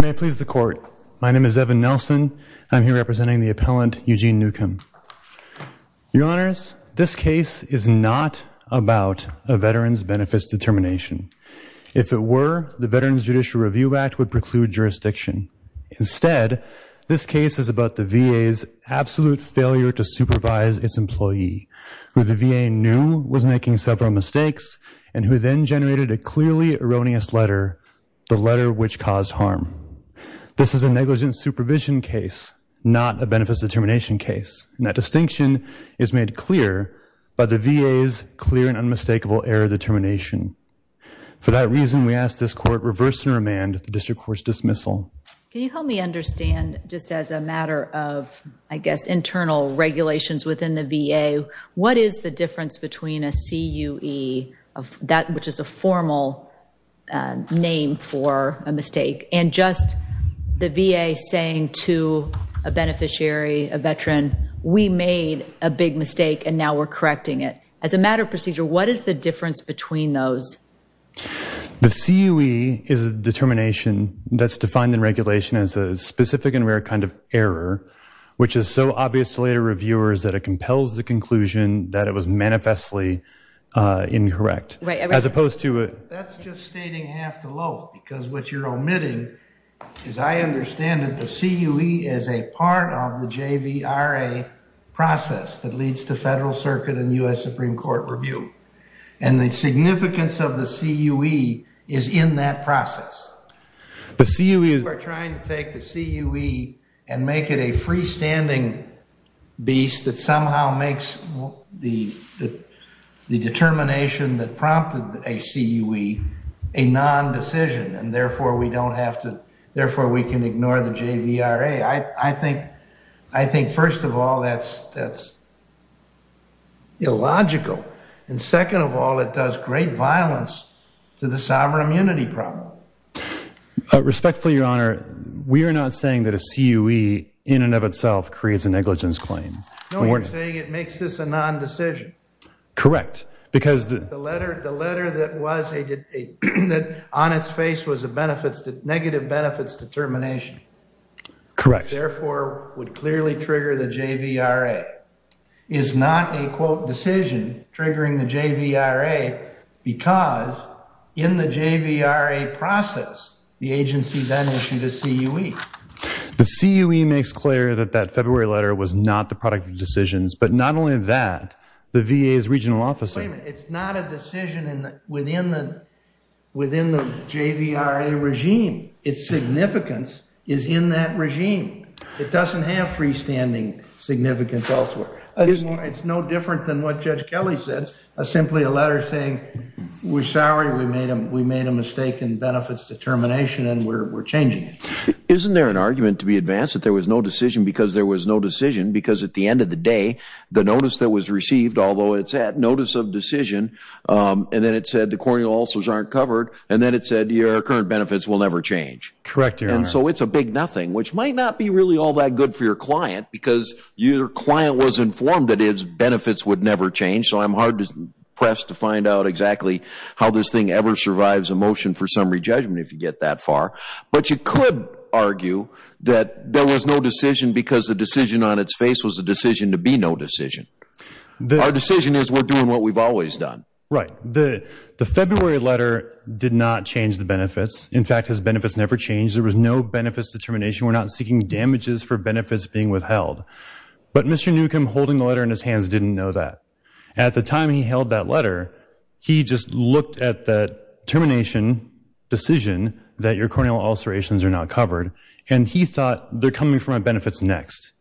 may I please the court my name is Evan Nelson I'm here representing the appellant Eugene Newcomb your honors this case is not about a veteran's judicial review act would preclude jurisdiction instead this case is about the VA's absolute failure to supervise its employee who the VA knew was making several mistakes and who then generated a clearly erroneous letter the letter which caused harm this is a negligent supervision case not a benefits determination case and that distinction is made clear by the VA's clear and unmistakable error determination for that reason we ask this court reverse and remand the district courts dismissal can you help me understand just as a matter of I guess internal regulations within the VA what is the difference between a CUE of that which is a formal name for a mistake and just the VA saying to a beneficiary a veteran we made a big mistake and now we're correcting it as a matter of procedure what is the difference between those the CUE is a determination that's defined in regulation as a specific and rare kind of error which is so obvious to later reviewers that it compels the conclusion that it was manifestly incorrect as opposed to it because what you're omitting as I understand it the CUE is a part of the JVRA process that leads to Federal Circuit and US Supreme Court review and the significance of the CUE is in that process the CUE is we're trying to take the CUE and make it a freestanding beast that somehow makes the the determination that prompted a CUE a non-decision and therefore we don't have to therefore we can ignore the JVRA I think I think first of all that's that's illogical and second of all it does great violence to the sovereign immunity problem respectfully your honor we are not saying that a CUE in and of itself creates a negligence claim correct because the letter the letter that was on its face was a benefits that negative benefits determination correct therefore would because in the JVRA process the agency then issued a CUE the CUE makes clear that that February letter was not the product of decisions but not only that the VA is regional officer it's not a decision within the within the JVRA regime its significance is in that regime it doesn't have freestanding significance elsewhere it's no different than what Judge Kelly said a simply a better thing we're sorry we made him we made a mistake in benefits determination and we're changing it isn't there an argument to be advanced that there was no decision because there was no decision because at the end of the day the notice that was received although it's at notice of decision and then it said the corneal ulcers aren't covered and then it said your current benefits will never change correct and so it's a big nothing which might not be really all that good for your client because your client was informed that his press to find out exactly how this thing ever survives a motion for summary judgment if you get that far but you could argue that there was no decision because the decision on its face was a decision to be no decision the decision is we're doing what we've always done right the the February letter did not change the benefits in fact his benefits never changed there was no benefits determination we're not seeking damages for benefits being withheld but mr. Newcomb holding the letter in his hands didn't know that at the time he held that letter he just looked at that termination decision that your corneal ulcerations are not covered and he thought they're coming for my benefits next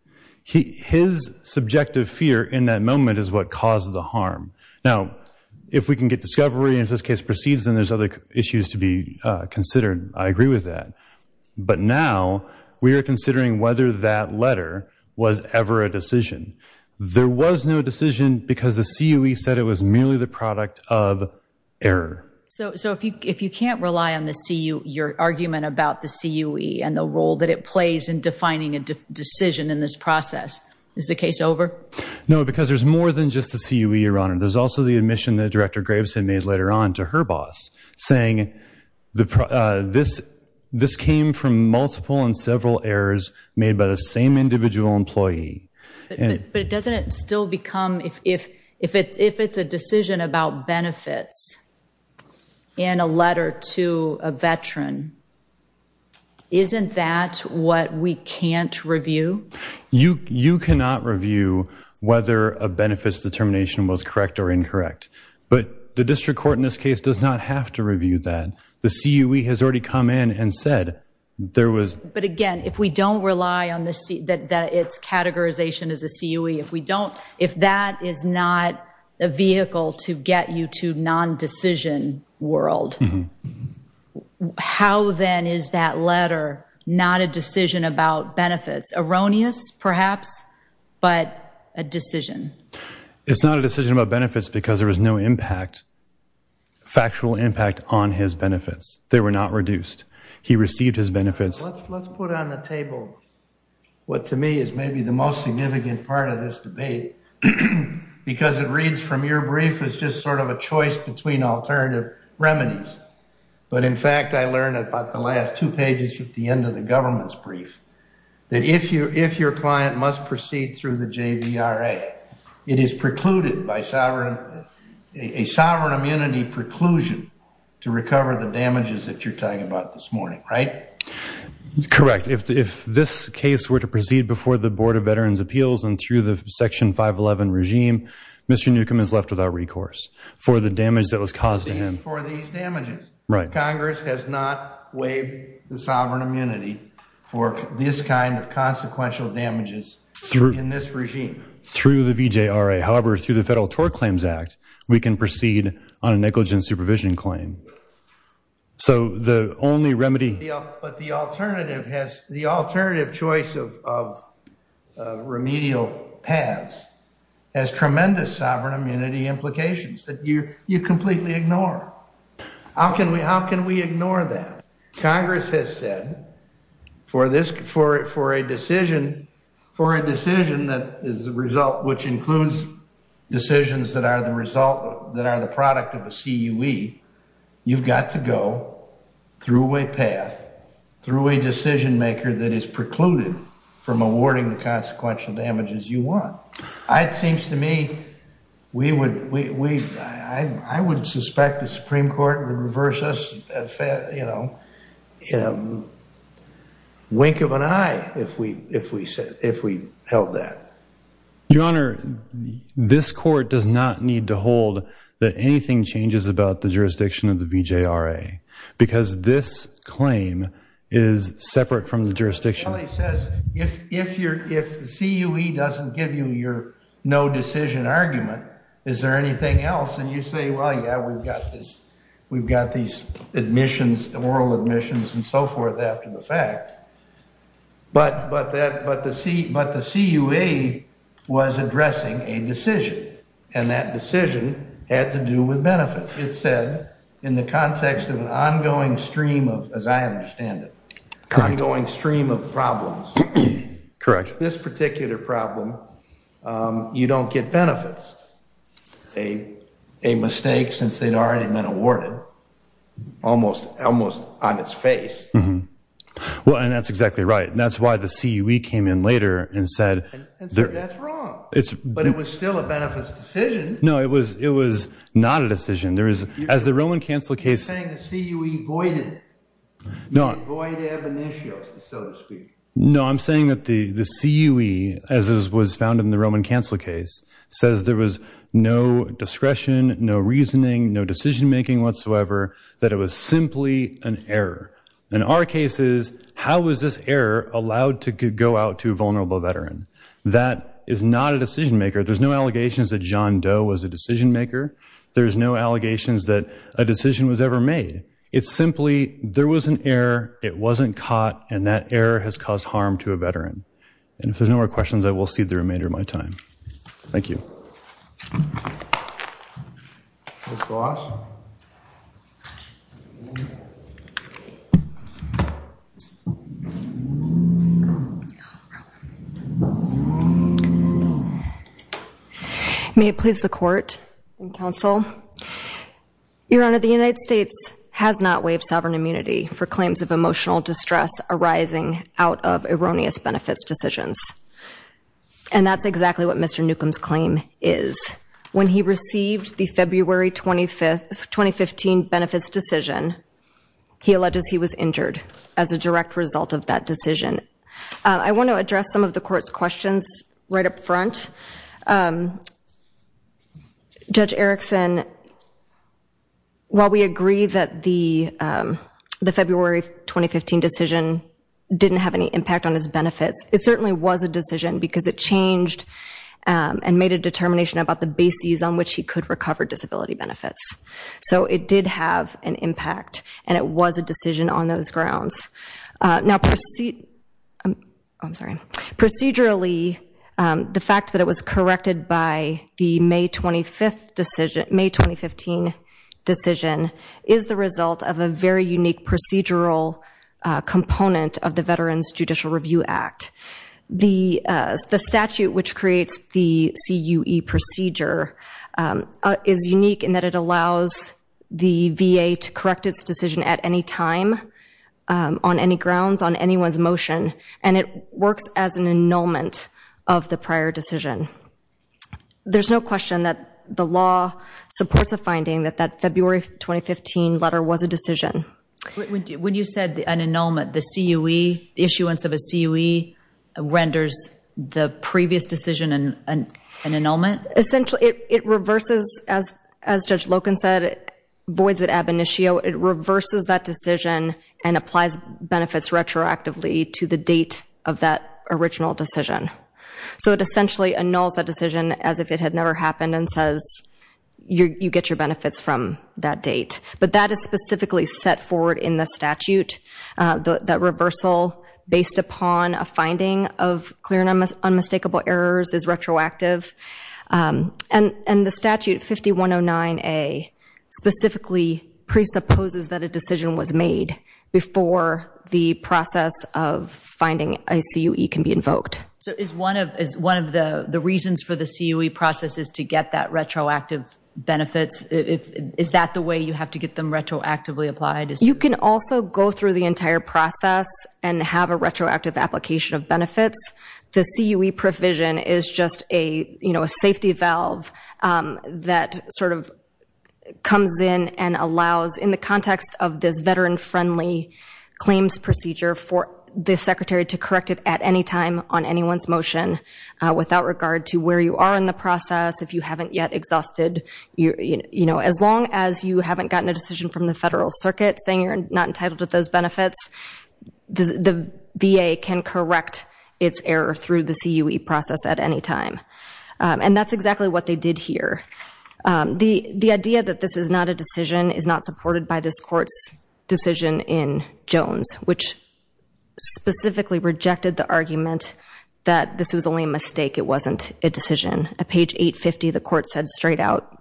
he his subjective fear in that moment is what caused the harm now if we can get discovery in this case proceeds and there's other issues to be considered I agree with that but now we are considering whether that letter was ever a decision there was no decision because the CUE said it was merely the product of error so so if you if you can't rely on the see you your argument about the CUE and the role that it plays in defining a decision in this process is the case over no because there's more than just the CUE your honor there's also the admission that director graves had made later on to her boss saying the this this came from multiple and several errors made by the same individual employee but it doesn't it still become if if it if it's a decision about benefits in a letter to a veteran isn't that what we can't review you you cannot review whether a benefits determination was correct or incorrect but the district court in this case does not have to review that the CUE has already come in and said there was but again if we don't rely on the seat that its categorization is a CUE if we don't if that is not a vehicle to get you to non-decision world how then is that letter not a decision about benefits erroneous perhaps but a decision it's not a decision about benefits because there was no impact factual impact on his benefits they were not reduced he received his benefits what to me is maybe the most significant part of this debate because it reads from your brief is just sort of a choice between alternative remedies but in fact I learned about the last two pages at the end of the government's brief that if you if your client must proceed through the JVRA it is precluded by sovereign a sovereign immunity preclusion to recover the damages that you're talking about this morning right correct if this case were to proceed before the Board of Veterans Appeals and through the section 511 regime mr. Newcomb is left without recourse for the damage that was caused in him right Congress has not waived the sovereign immunity for this kind of regime through the VJ RA however through the Federal Tort Claims Act we can proceed on a negligent supervision claim so the only remedy but the alternative has the alternative choice of remedial paths has tremendous sovereign immunity implications that you you completely ignore how can we how can we ignore that Congress has said for this for it for a decision for a is the result which includes decisions that are the result that are the product of a CUE you've got to go through a path through a decision-maker that is precluded from awarding the consequential damages you want it seems to me we would we I would suspect the Supreme Court to reverse us you know you know wink of an eye if we if we said if we held that your honor this court does not need to hold that anything changes about the jurisdiction of the VJ RA because this claim is separate from the jurisdiction if if you're if the CUE doesn't give you your no decision argument is there anything else and you say well yeah we've got this we've got these admissions the moral admissions and so forth after the fact but but that but the seat but the CUE was addressing a decision and that decision had to do with benefits it said in the context of an ongoing stream of as I understand it ongoing stream of problems correct this particular problem you don't get benefits a a mistake since they'd almost almost on its face mm-hmm well and that's exactly right and that's why the CUE came in later and said it's but it was still a benefits decision no it was it was not a decision there is as the Roman cancel case no I'm saying that the the CUE as it was found in the Roman cancel case says there was no discretion no reasoning no decision-making whatsoever that it was simply an error in our cases how was this error allowed to go out to vulnerable veteran that is not a decision-maker there's no allegations that John Doe was a decision-maker there's no allegations that a decision was ever made it's simply there was an error it wasn't caught and that error has caused harm to a veteran and if there's no more questions I will see the my time thank you may it please the court and counsel your honor the United States has not waived sovereign immunity for claims of emotional distress arising out of erroneous benefits decisions and that's exactly what mr. Newcomb's claim is when he received the February 25th 2015 benefits decision he alleges he was injured as a direct result of that decision I want to address some of the court's questions right up front judge Erickson while we agree that the the 2015 decision didn't have any impact on his benefits it certainly was a decision because it changed and made a determination about the bases on which he could recover disability benefits so it did have an impact and it was a decision on those grounds now proceed I'm sorry procedurally the fact that it was corrected by the May 25th decision May 2015 decision is the result of a very unique procedural component of the Veterans Judicial Review Act the the statute which creates the CUE procedure is unique in that it allows the VA to correct its decision at any time on any grounds on anyone's motion and it works as an annulment of the prior decision there's no question that the law supports a finding that that February 2015 letter was a decision when you said the an annulment the CUE the issuance of a CUE renders the previous decision and an annulment essentially it reverses as as judge Loken said voids at ab initio it reverses that decision and applies benefits retroactively to the date of that original decision so it essentially annuls that decision as if it had never happened and says you get your benefits from that date but that is specifically set forward in the statute that reversal based upon a finding of clear and unmistakable errors is retroactive and and the statute 5109 a specifically presupposes that a decision was made before the process of finding a can be invoked so is one of is one of the the reasons for the CUE process is to get that retroactive benefits if is that the way you have to get them retroactively applied as you can also go through the entire process and have a retroactive application of benefits the CUE provision is just a you know a safety valve that sort of comes in and allows in the context of this veteran friendly claims procedure for the secretary to correct it at any time on anyone's motion without regard to where you are in the process if you haven't yet exhausted you you know as long as you haven't gotten a decision from the Federal Circuit saying you're not entitled to those benefits the VA can correct its error through the CUE process at any time and that's exactly what they did here the the idea that this is not a decision is not supported by this courts decision in Jones which specifically rejected the argument that this was only a mistake it wasn't a decision a page 850 the court said straight out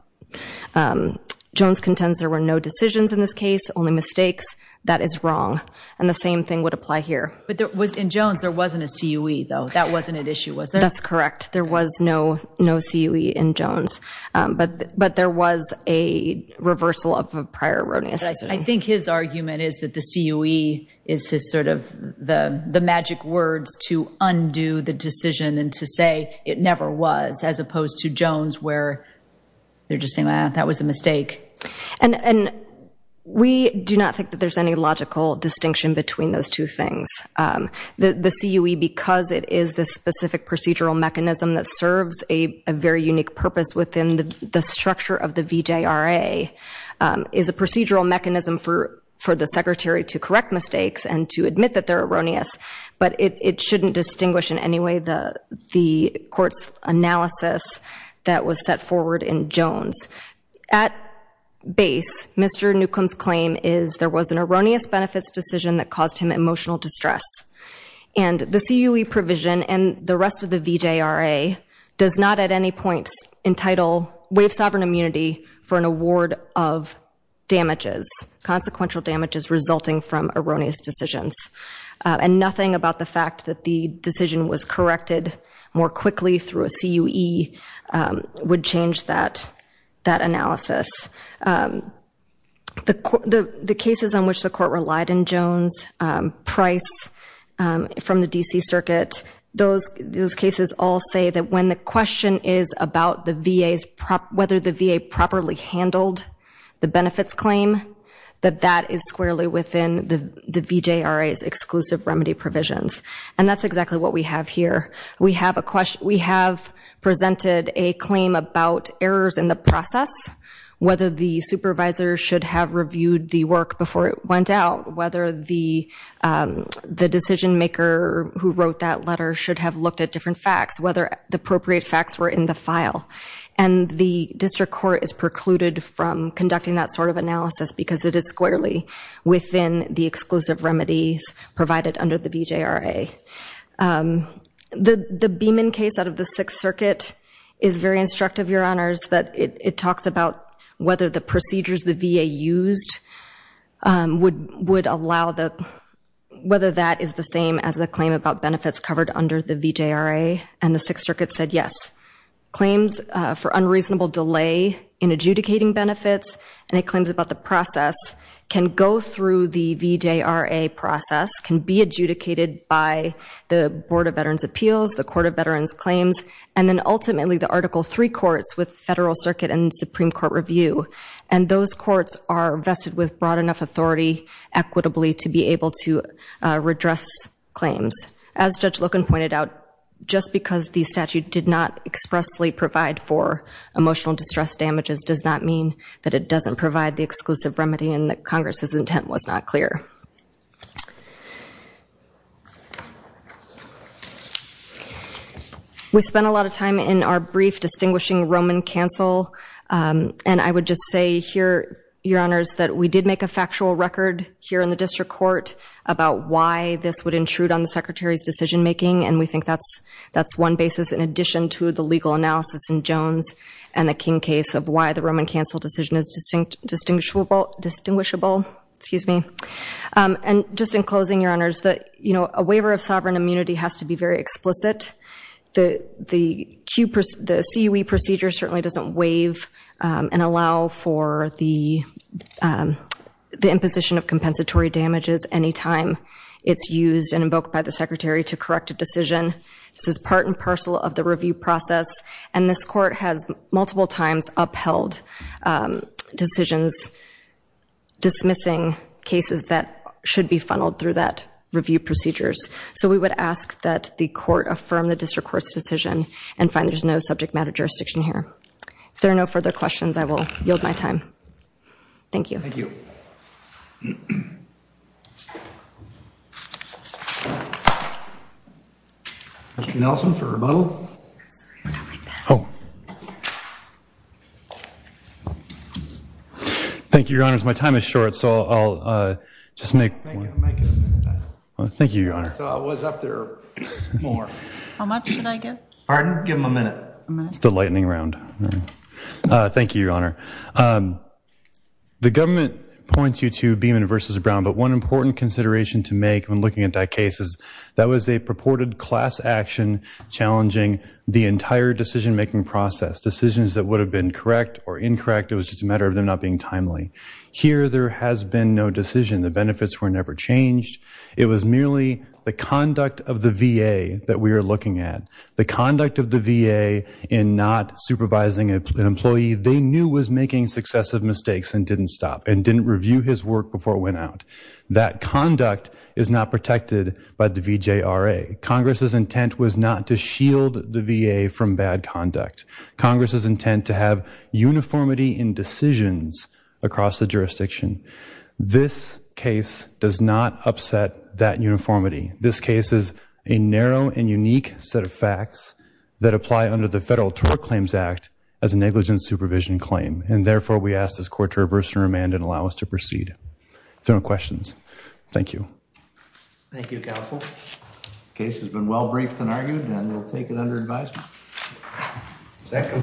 Jones contends there were no decisions in this case only mistakes that is wrong and the same thing would apply here but there was in Jones there wasn't a CUE though that wasn't an issue was that's correct there was no no CUE in Jones but but there was a reversal of a prior erroneous I think his argument is that the CUE is sort of the the magic words to undo the decision and to say it never was as opposed to Jones where they're just saying that was a mistake and and we do not think that there's any logical distinction between those two things the the CUE because it is the specific procedural mechanism that serves a very unique purpose within the structure of the VJ RA is a procedural mechanism for for the secretary to correct mistakes and to admit that they're erroneous but it shouldn't distinguish in any way the the courts analysis that was set forward in Jones at base mr. Newcomb's claim is there was an erroneous benefits decision that caused him emotional distress and the CUE provision and the rest of the VJ RA does not at any point entitle wave sovereign immunity for an award of damages consequential damages resulting from erroneous decisions and nothing about the fact that the decision was corrected more quickly through a CUE would change that that analysis the the circuit those those cases all say that when the question is about the VA's whether the VA properly handled the benefits claim that that is squarely within the the VJ RA is exclusive remedy provisions and that's exactly what we have here we have a question we have presented a claim about errors in the process whether the supervisor should have reviewed the work before it went out whether the the decision-maker who wrote that letter should have looked at different facts whether the appropriate facts were in the file and the district court is precluded from conducting that sort of analysis because it is squarely within the exclusive remedies provided under the VJ RA the the Beeman case out of the Sixth Circuit is very instructive your honors that it talks about whether the procedures the VA used would would allow that whether that is the same as the claim about benefits covered under the VJ RA and the Sixth Circuit said yes claims for unreasonable delay in adjudicating benefits and it claims about the process can go through the VJ RA process can be adjudicated by the Board of Veterans Appeals the Court of Veterans Claims and then ultimately the those courts are vested with broad enough authority equitably to be able to redress claims as Judge Loken pointed out just because the statute did not expressly provide for emotional distress damages does not mean that it doesn't provide the exclusive remedy and that Congress's intent was not clear we spent a lot of time in our brief distinguishing Roman cancel and I would just say here your honors that we did make a factual record here in the district court about why this would intrude on the secretary's decision making and we think that's that's one basis in addition to the legal analysis in Jones and the King case of why the Roman cancel decision is distinct distinguishable distinguishable excuse me and just in closing your honors that you know a waiver of sovereign immunity has to be very explicit the the Q the CUE procedure certainly doesn't waive and allow for the the imposition of compensatory damages anytime it's used and invoked by the secretary to correct a decision this is part and parcel of the review process and this court has multiple times upheld decisions dismissing cases that should be funneled through that review procedures so we would ask that the court affirm the jurisdiction here if there are no further questions I will yield my time thank you thank you thank you your honors my time is short so I'll just make thank you your honor more how much should I give pardon give him a minute the lightning round thank you your honor the government points you to Beeman versus Brown but one important consideration to make when looking at that case is that was a purported class action challenging the entire decision-making process decisions that would have been correct or incorrect it was just a matter of them not being timely here there has been no decision the benefits were never changed it was merely the conduct of the VA that we are looking at the conduct of the VA in not supervising an employee they knew was making successive mistakes and didn't stop and didn't review his work before it went out that conduct is not protected by the VJ RA Congress's intent was not to shield the VA from bad conduct Congress's intent to have uniformity in decisions across the this case is a narrow and unique set of facts that apply under the federal tort claims act as a negligent supervision claim and therefore we ask this court to reverse and remand and allow us to proceed if there are no questions thank you thank you counsel case has been well briefed and argued and we'll take it under advisement